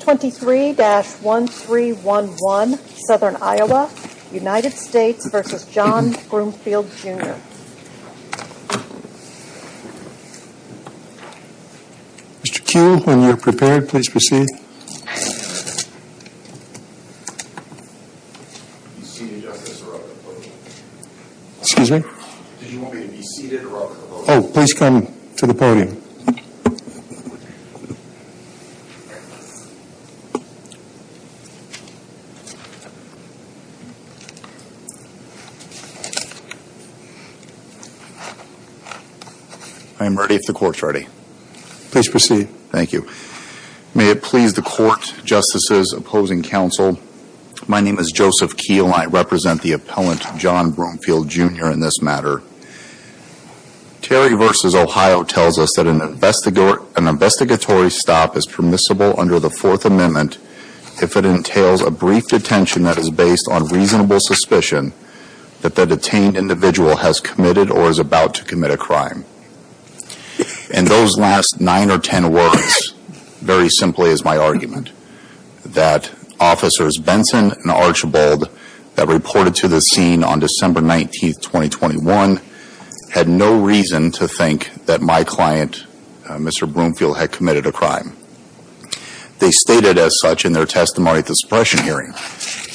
23-1311, Southern Iowa, United States v. John Broomfield, Jr. Mr. Kuehl, when you're prepared, please proceed. Excuse me? Did you want me to be seated or up? Oh, please come to the podium. I'm ready if the court's ready. Please proceed. Thank you. May it please the court, justices, opposing counsel, my name is Joseph Kuehl and I represent the appellant John Broomfield, Jr. in this matter. Terry v. Ohio tells us that an investigatory stop is permissible under the Fourth Amendment if it entails a brief detention that is based on reasonable suspicion that the detained individual has committed or is about to commit a crime. In those last nine or ten words, very simply is my argument that officers Benson and Archibald that reported to the scene on December 19, 2021, had no reason to think that my client, Mr. Broomfield, had committed a crime. They stated as such in their testimony at the suppression hearing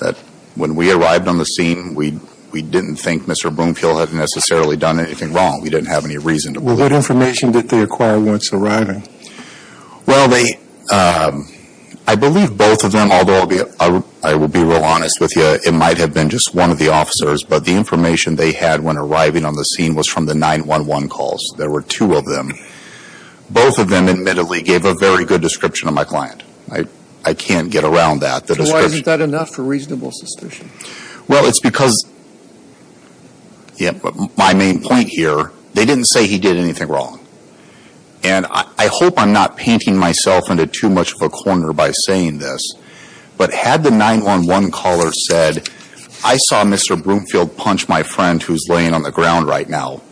that when we arrived on the scene, we didn't think Mr. Broomfield had necessarily done anything wrong. We didn't have any reason to believe it. What information did they acquire once arriving? Well, I believe both of them, although I will be real honest with you, it might have been just one of the officers, but the information they had when arriving on the scene was from the 911 calls. There were two of them. Both of them admittedly gave a very good description of my client. I can't get around that. So why isn't that enough for reasonable suspicion? Well, it's because my main point here, they didn't say he did anything wrong. And I hope I'm not painting myself into too much of a corner by saying this, but had the 911 caller said, I saw Mr. Broomfield punch my friend who's laying on the ground right now,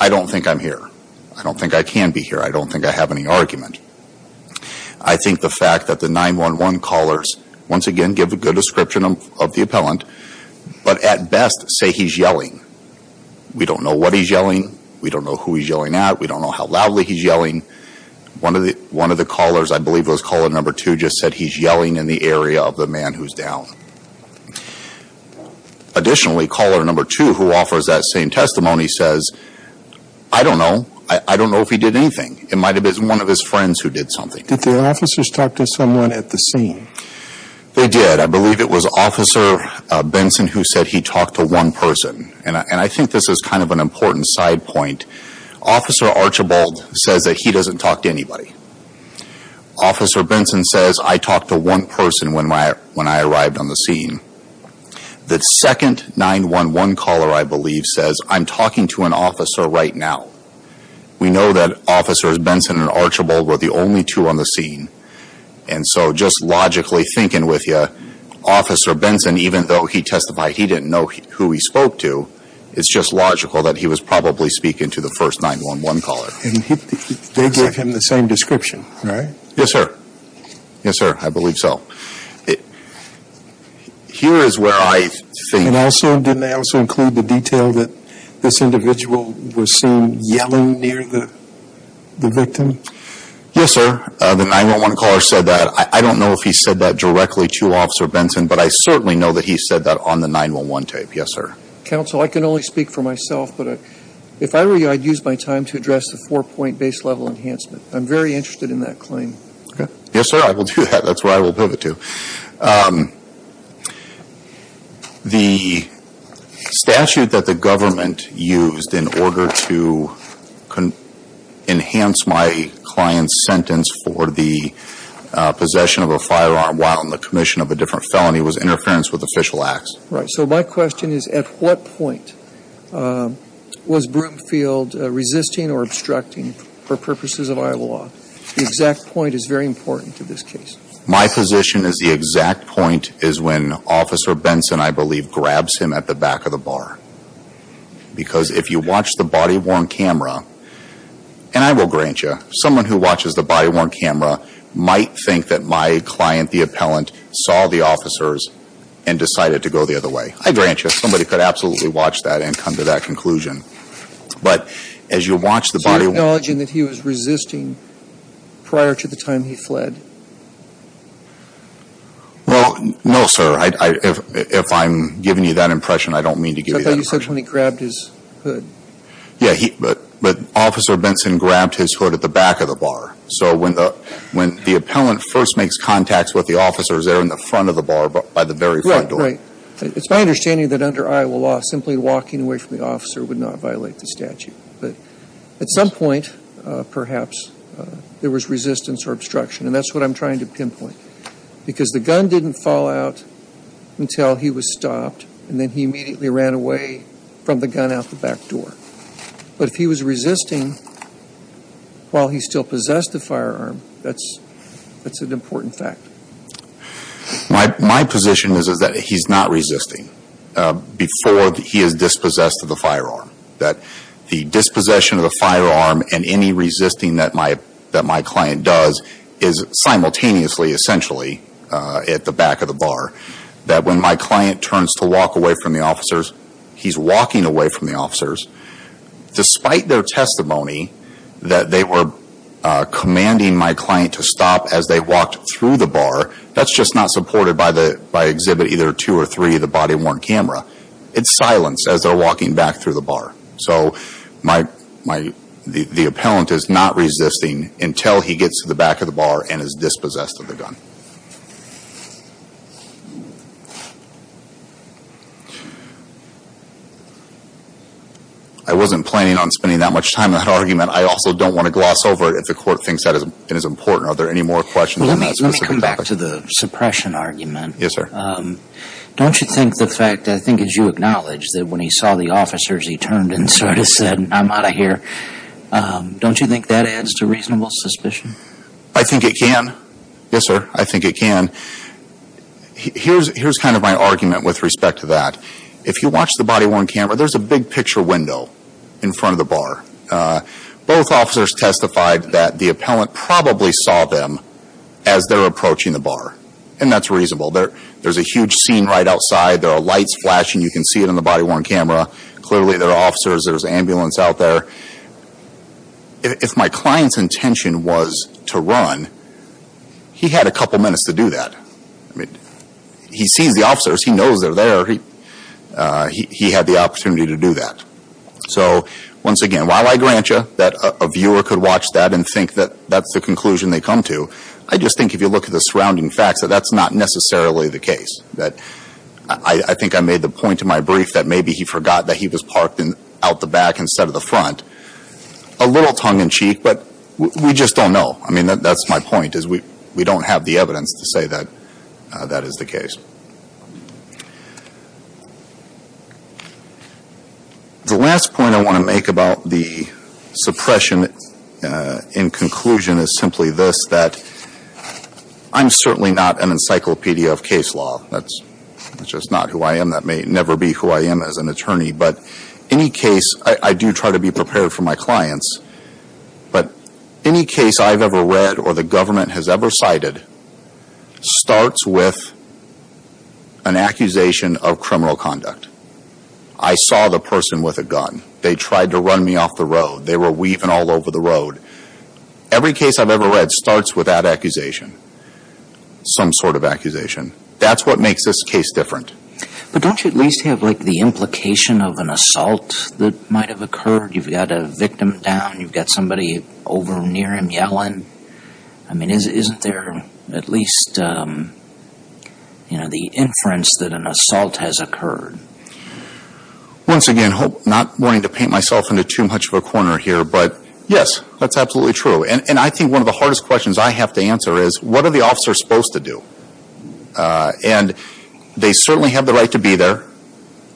I don't think I'm here. I don't think I can be here. I don't think I have any argument. I think the fact that the 911 callers, once again, give a good description of the appellant, but at best say he's yelling. We don't know what he's yelling. We don't know who he's yelling at. We don't know how loudly he's yelling. One of the callers, I believe it was caller number two, just said he's yelling in the area of the man who's down. Additionally, caller number two, who offers that same testimony, says, I don't know. I don't know if he did anything. It might have been one of his friends who did something. Did the officers talk to someone at the scene? They did. I believe it was Officer Benson who said he talked to one person. And I think this is kind of an important side point. Officer Archibald says that he doesn't talk to anybody. Officer Benson says, I talked to one person when I arrived on the scene. The second 911 caller, I believe, says, I'm talking to an officer right now. We know that Officers Benson and Archibald were the only two on the scene. And so just logically thinking with you, Officer Benson, even though he testified he didn't know who he spoke to, it's just logical that he was probably speaking to the first 911 caller. They gave him the same description, right? Yes, sir. Yes, sir. I believe so. Here is where I think. And also, didn't they also include the detail that this individual was seen yelling near the victim? Yes, sir. The 911 caller said that. I don't know if he said that directly to Officer Benson, but I certainly know that he said that on the 911 tape. Yes, sir. Counsel, I can only speak for myself, but if I were you, I'd use my time to address the four-point base level enhancement. I'm very interested in that claim. Yes, sir. I will do that. That's where I will pivot to. The statute that the government used in order to enhance my client's sentence for the possession of a firearm while on the commission of a different felony was interference with official acts. Right. So my question is, at what point was Broomfield resisting or obstructing for purposes of Iowa law? The exact point is very important to this case. My position is the exact point is when Officer Benson, I believe, grabs him at the back of the bar. Because if you watch the body-worn camera, and I will grant you, someone who watches the body-worn camera might think that my client, the appellant, saw the officers and decided to go the other way. I grant you, somebody could absolutely watch that and come to that conclusion. But as you watch the body-worn- So you're acknowledging that he was resisting prior to the time he fled? Well, no, sir. If I'm giving you that impression, I don't mean to give you that impression. I thought you said when he grabbed his hood. Yeah, but Officer Benson grabbed his hood at the back of the bar. So when the appellant first makes contacts with the officers, they're in the front of the bar by the very front door. Right, right. It's my understanding that under Iowa law, simply walking away from the officer would not violate the statute. But at some point, perhaps, there was resistance or obstruction. And that's what I'm trying to pinpoint. Because the gun didn't fall out until he was stopped, and then he immediately ran away from the gun out the back door. But if he was resisting while he still possessed the firearm, that's an important fact. My position is that he's not resisting before he is dispossessed of the firearm. That the dispossession of the firearm and any resisting that my client does is simultaneously, essentially, at the back of the bar. That when my client turns to walk away from the officers, he's walking away from the officers. Despite their testimony that they were commanding my client to stop as they walked through the bar, that's just not supported by exhibit either two or three of the body-worn camera. It's silence as they're walking back through the bar. So the appellant is not resisting until he gets to the back of the bar and is dispossessed of the gun. I wasn't planning on spending that much time on that argument. I also don't want to gloss over it if the court thinks that is important. Are there any more questions on that specific topic? Let me come back to the suppression argument. Yes, sir. Don't you think the fact, I think as you acknowledge, that when he saw the officers he turned and sort of said, I'm out of here, don't you think that adds to reasonable suspicion? I think it can. Yes, sir. I think it can. Here's kind of my argument with respect to that. If you watch the body-worn camera, there's a big picture window in front of the bar. Both officers testified that the appellant probably saw them as they're approaching the bar. And that's reasonable. There's a huge scene right outside. There are lights flashing. You can see it in the body-worn camera. Clearly there are officers. There's an ambulance out there. If my client's intention was to run, he had a couple minutes to do that. He sees the officers. He knows they're there. He had the opportunity to do that. So once again, while I grant you that a viewer could watch that and think that that's the conclusion they come to, I just think if you look at the surrounding facts, that that's not necessarily the case. I think I made the point in my brief that maybe he forgot that he was parked out the back instead of the front. A little tongue-in-cheek, but we just don't know. I mean, that's my point, is we don't have the evidence to say that that is the case. The last point I want to make about the suppression in conclusion is simply this, that I'm certainly not an encyclopedia of case law. That's just not who I am. That may never be who I am as an attorney. But any case, I do try to be prepared for my clients. But any case I've ever read or the government has ever cited starts with an accusation of criminal conduct. I saw the person with a gun. They tried to run me off the road. They were weaving all over the road. Every case I've ever read starts with that accusation, some sort of accusation. That's what makes this case different. But don't you at least have the implication of an assault that might have occurred? You've got a victim down. You've got somebody over near him yelling. I mean, isn't there at least the inference that an assault has occurred? Once again, not wanting to paint myself into too much of a corner here, but yes, that's absolutely true. And I think one of the hardest questions I have to answer is what are the officers supposed to do? And they certainly have the right to be there.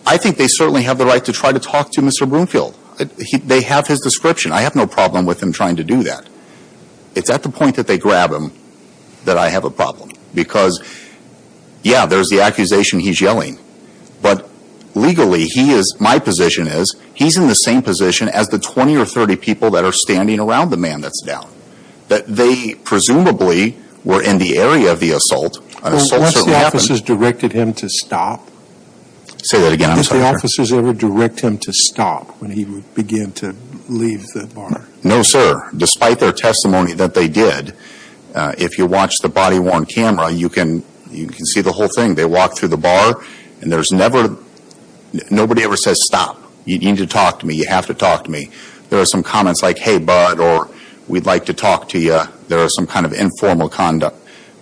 I think they certainly have the right to try to talk to Mr. Broomfield. They have his description. I have no problem with him trying to do that. It's at the point that they grab him that I have a problem because, yeah, there's the accusation he's yelling. But legally, my position is he's in the same position as the 20 or 30 people that are standing around the man that's down. But they presumably were in the area of the assault. An assault certainly happened. Once the officers directed him to stop? Say that again. Did the officers ever direct him to stop when he would begin to leave the bar? No, sir. Despite their testimony that they did, if you watch the body-worn camera, you can see the whole thing. They walk through the bar, and there's never – nobody ever says stop. You need to talk to me. You have to talk to me. There are some comments like, hey, bud, or we'd like to talk to you. There are some kind of informal conduct,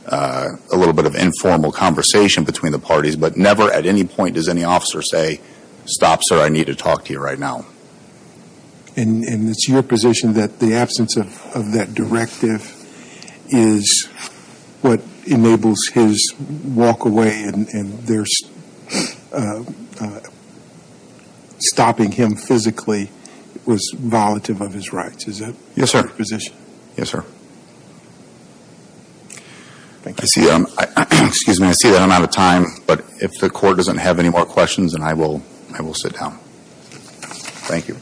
a little bit of informal conversation between the parties. But never at any point does any officer say stop, sir, I need to talk to you right now. And it's your position that the absence of that directive is what enables his walk away and stopping him physically was volatile of his rights. Is that your position? Yes, sir. Yes, sir. Thank you. Excuse me. I see that I'm out of time. But if the Court doesn't have any more questions, then I will sit down. Thank you.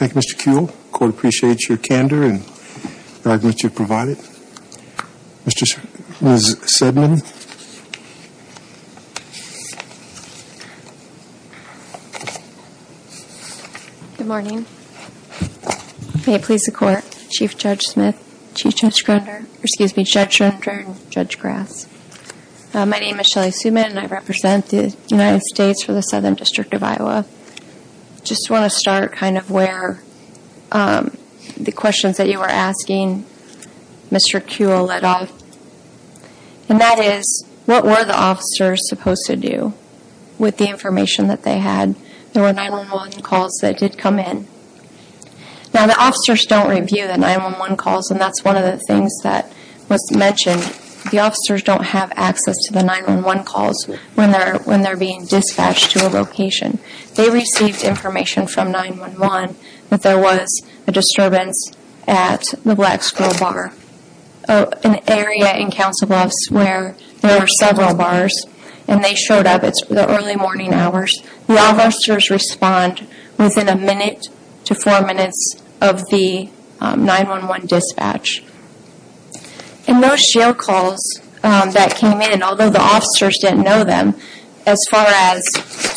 Thank you, Mr. Kuehl. The Court appreciates your candor and the arguments you've provided. Ms. Sedman. Good morning. May it please the Court. Chief Judge Smith. Chief Judge Grunder. Excuse me, Judge Grunder. Judge Grass. My name is Shelly Seidman and I represent the United States for the Southern District of Iowa. I just want to start kind of where the questions that you were asking Mr. Kuehl led off. And that is, what were the officers supposed to do with the information that they had? There were 911 calls that did come in. Now, the officers don't review the 911 calls, and that's one of the things that was mentioned. The officers don't have access to the 911 calls when they're being dispatched to a location. They received information from 911 that there was a disturbance at the Black Scroll Bar, an area in Council Bluffs where there were several bars. And they showed up at the early morning hours. The officers respond within a minute to four minutes of the 911 dispatch. And those jail calls that came in, although the officers didn't know them, as far as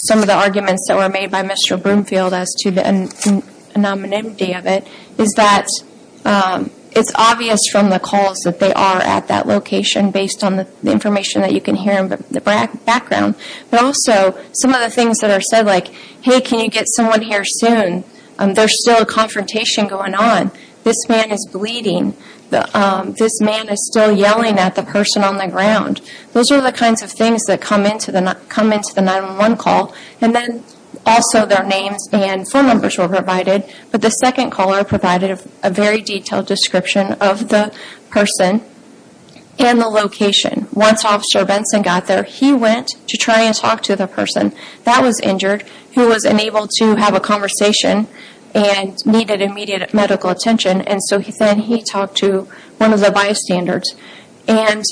some of the arguments that were made by Mr. Broomfield as to the anonymity of it, is that it's obvious from the calls that they are at that location based on the information that you can hear in the background. But also, some of the things that are said like, hey, can you get someone here soon? There's still a confrontation going on. This man is bleeding. This man is still yelling at the person on the ground. Those are the kinds of things that come into the 911 call. And then also their names and phone numbers were provided. But the second caller provided a very detailed description of the person and the location. Once Officer Benson got there, he went to try and talk to the person that was injured, who was unable to have a conversation and needed immediate medical attention. And so then he talked to one of the bystanders. And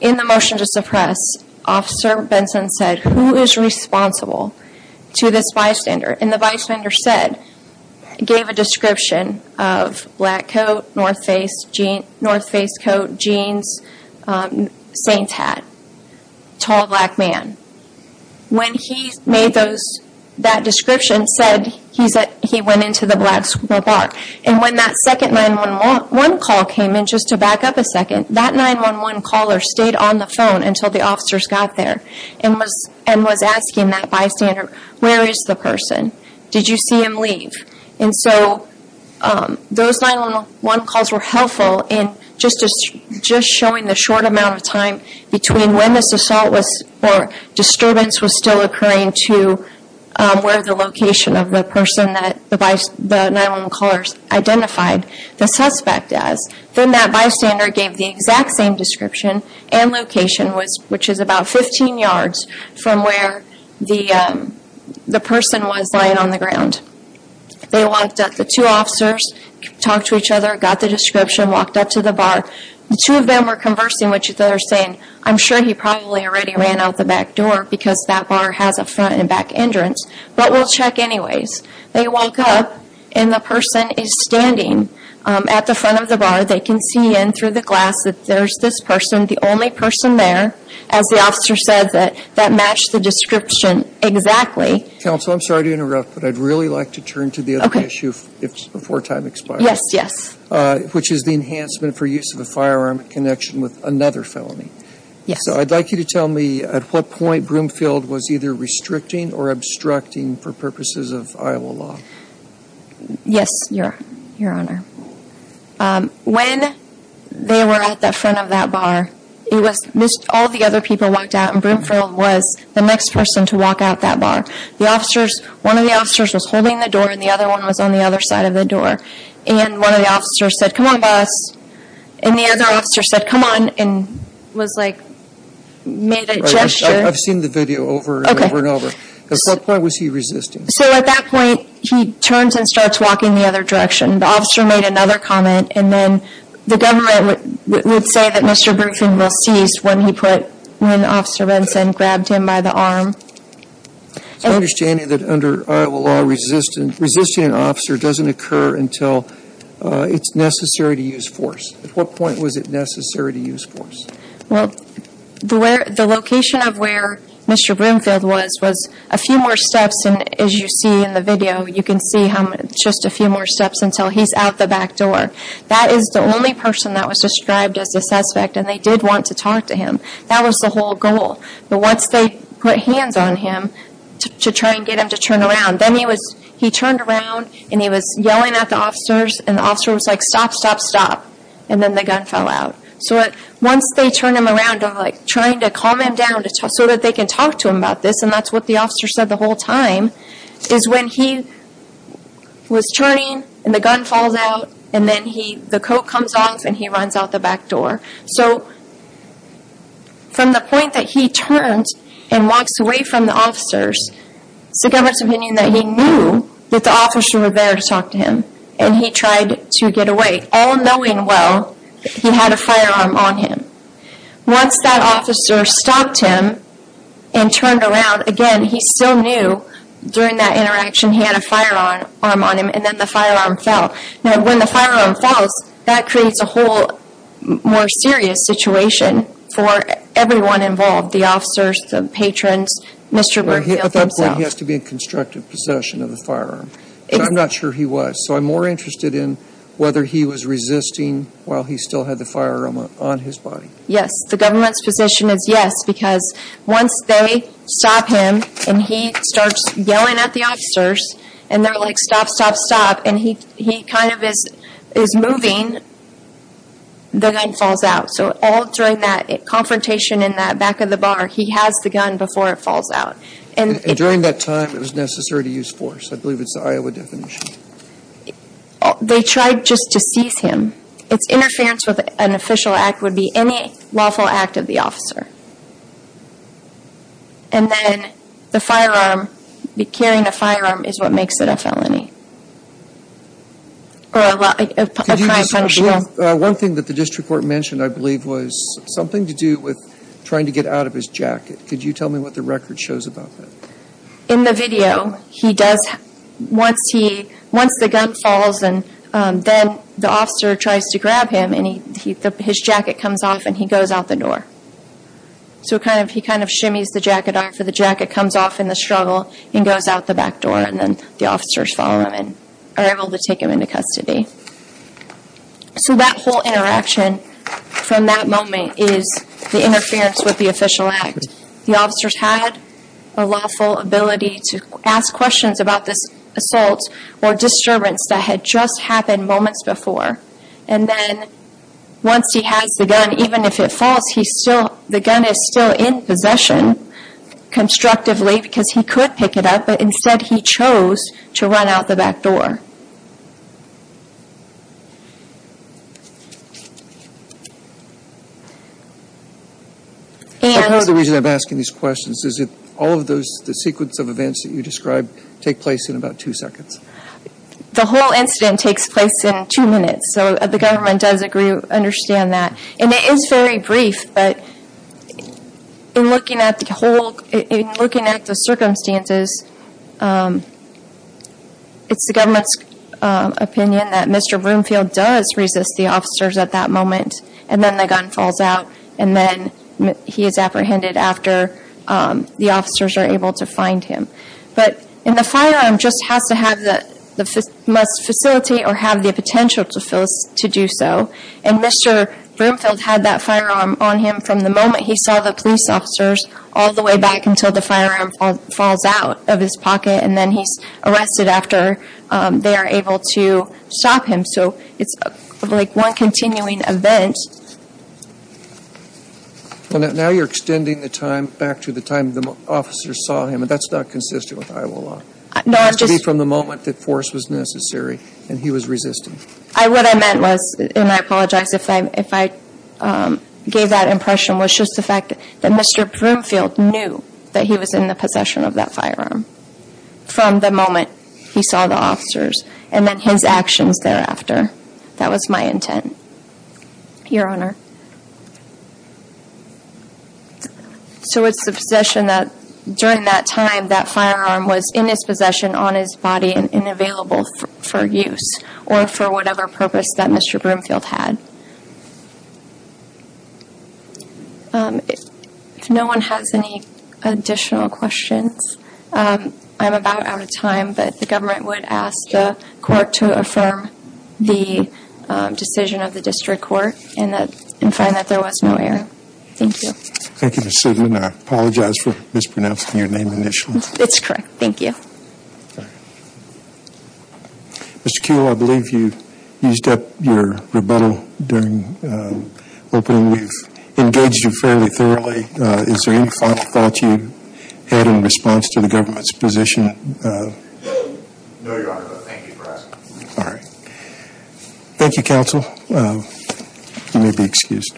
in the motion to suppress, Officer Benson said, who is responsible to this bystander? And the bystander said, gave a description of black coat, north face coat, jeans, saints hat, tall black man. When he made that description, he said he went into the black school bar. And when that second 911 call came in, just to back up a second, that 911 caller stayed on the phone until the officers got there. And was asking that bystander, where is the person? Did you see him leave? And so those 911 calls were helpful in just showing the short amount of time between when this assault or disturbance was still occurring to where the location of the person that the 911 caller identified the suspect as. Then that bystander gave the exact same description and location, which is about 15 yards from where the person was lying on the ground. They walked up, the two officers talked to each other, got the description, walked up to the bar. The two of them were conversing, which they were saying, I'm sure he probably already ran out the back door because that bar has a front and back entrance. But we'll check anyways. They walk up and the person is standing at the front of the bar. They can see in through the glass that there's this person, the only person there. As the officer said, that matched the description exactly. Counsel, I'm sorry to interrupt, but I'd really like to turn to the other issue before time expires. Yes, yes. Which is the enhancement for use of a firearm in connection with another felony. Yes. So I'd like you to tell me at what point Broomfield was either restricting or obstructing for purposes of Iowa law. Yes, Your Honor. When they were at the front of that bar, all the other people walked out and Broomfield was the next person to walk out that bar. One of the officers was holding the door and the other one was on the other side of the door. And one of the officers said, come on boss. And the other officer said, come on, and was like, made a gesture. I've seen the video over and over and over. At what point was he resisting? So at that point, he turns and starts walking the other direction. The officer made another comment. And then the government would say that Mr. Broomfield ceased when he put, when Officer Benson grabbed him by the arm. It's my understanding that under Iowa law resisting an officer doesn't occur until it's necessary to use force. At what point was it necessary to use force? Well, the location of where Mr. Broomfield was, was a few more steps. And as you see in the video, you can see just a few more steps until he's out the back door. That is the only person that was described as a suspect. And they did want to talk to him. That was the whole goal. But once they put hands on him to try and get him to turn around, then he was, he turned around and he was yelling at the officers. And the officer was like, stop, stop, stop. And then the gun fell out. So once they turn him around, trying to calm him down so that they can talk to him about this, and that's what the officer said the whole time, is when he was turning and the gun falls out. And then he, the coat comes off and he runs out the back door. So from the point that he turns and walks away from the officers, it's the government's opinion that he knew that the officers were there to talk to him. And he tried to get away. But all knowing well, he had a firearm on him. Once that officer stopped him and turned around, again, he still knew during that interaction he had a firearm on him and then the firearm fell. Now when the firearm falls, that creates a whole more serious situation for everyone involved, the officers, the patrons, Mr. Brookfield himself. At that point, he has to be in constructive possession of the firearm. I'm not sure he was. So I'm more interested in whether he was resisting while he still had the firearm on his body. Yes, the government's position is yes, because once they stop him and he starts yelling at the officers, and they're like, stop, stop, stop, and he kind of is moving, the gun falls out. So all during that confrontation in that back of the bar, he has the gun before it falls out. And during that time, it was necessary to use force. I believe it's the Iowa definition. They tried just to seize him. Its interference with an official act would be any lawful act of the officer. And then the firearm, carrying a firearm is what makes it a felony. One thing that the district court mentioned, I believe, was something to do with trying to get out of his jacket. Could you tell me what the record shows about that? In the video, he does, once the gun falls and then the officer tries to grab him, and his jacket comes off and he goes out the door. So he kind of shimmies the jacket off, and the jacket comes off in the struggle and goes out the back door. And then the officers follow him and are able to take him into custody. So that whole interaction from that moment is the interference with the official act. The officers had a lawful ability to ask questions about this assault or disturbance that had just happened moments before. And then once he has the gun, even if it falls, the gun is still in possession constructively, because he could pick it up, but instead he chose to run out the back door. Part of the reason I'm asking these questions is that all of the sequence of events that you described take place in about two seconds. The whole incident takes place in two minutes, so the government does understand that. And it is very brief, but in looking at the circumstances, it's the government's opinion that Mr. Broomfield does resist the officers at that moment, and then the gun falls out, and then he is apprehended after the officers are able to find him. But the firearm just must facilitate or have the potential to do so. And Mr. Broomfield had that firearm on him from the moment he saw the police officers all the way back until the firearm falls out of his pocket, and then he's arrested after they are able to stop him. So it's like one continuing event. Now you're extending the time back to the time the officers saw him, and that's not consistent with Iowa law. It has to be from the moment that force was necessary and he was resisting. What I meant was, and I apologize if I gave that impression, was just the fact that Mr. Broomfield knew that he was in the possession of that firearm from the moment he saw the officers and then his actions thereafter. That was my intent. Your Honor. So it's the possession that, during that time, that firearm was in his possession on his body and available for use or for whatever purpose that Mr. Broomfield had. If no one has any additional questions, I'm about out of time, but the government would ask the court to affirm the decision of the district court and find that there was no error. Thank you. Thank you, Ms. Sidman. I apologize for mispronouncing your name initially. It's correct. Thank you. Mr. Kuehl, I believe you used up your rebuttal during opening. We've engaged you fairly thoroughly. Is there any final thoughts you had in response to the government's position? No, Your Honor, but thank you for asking. All right. Thank you, counsel. You may be excused.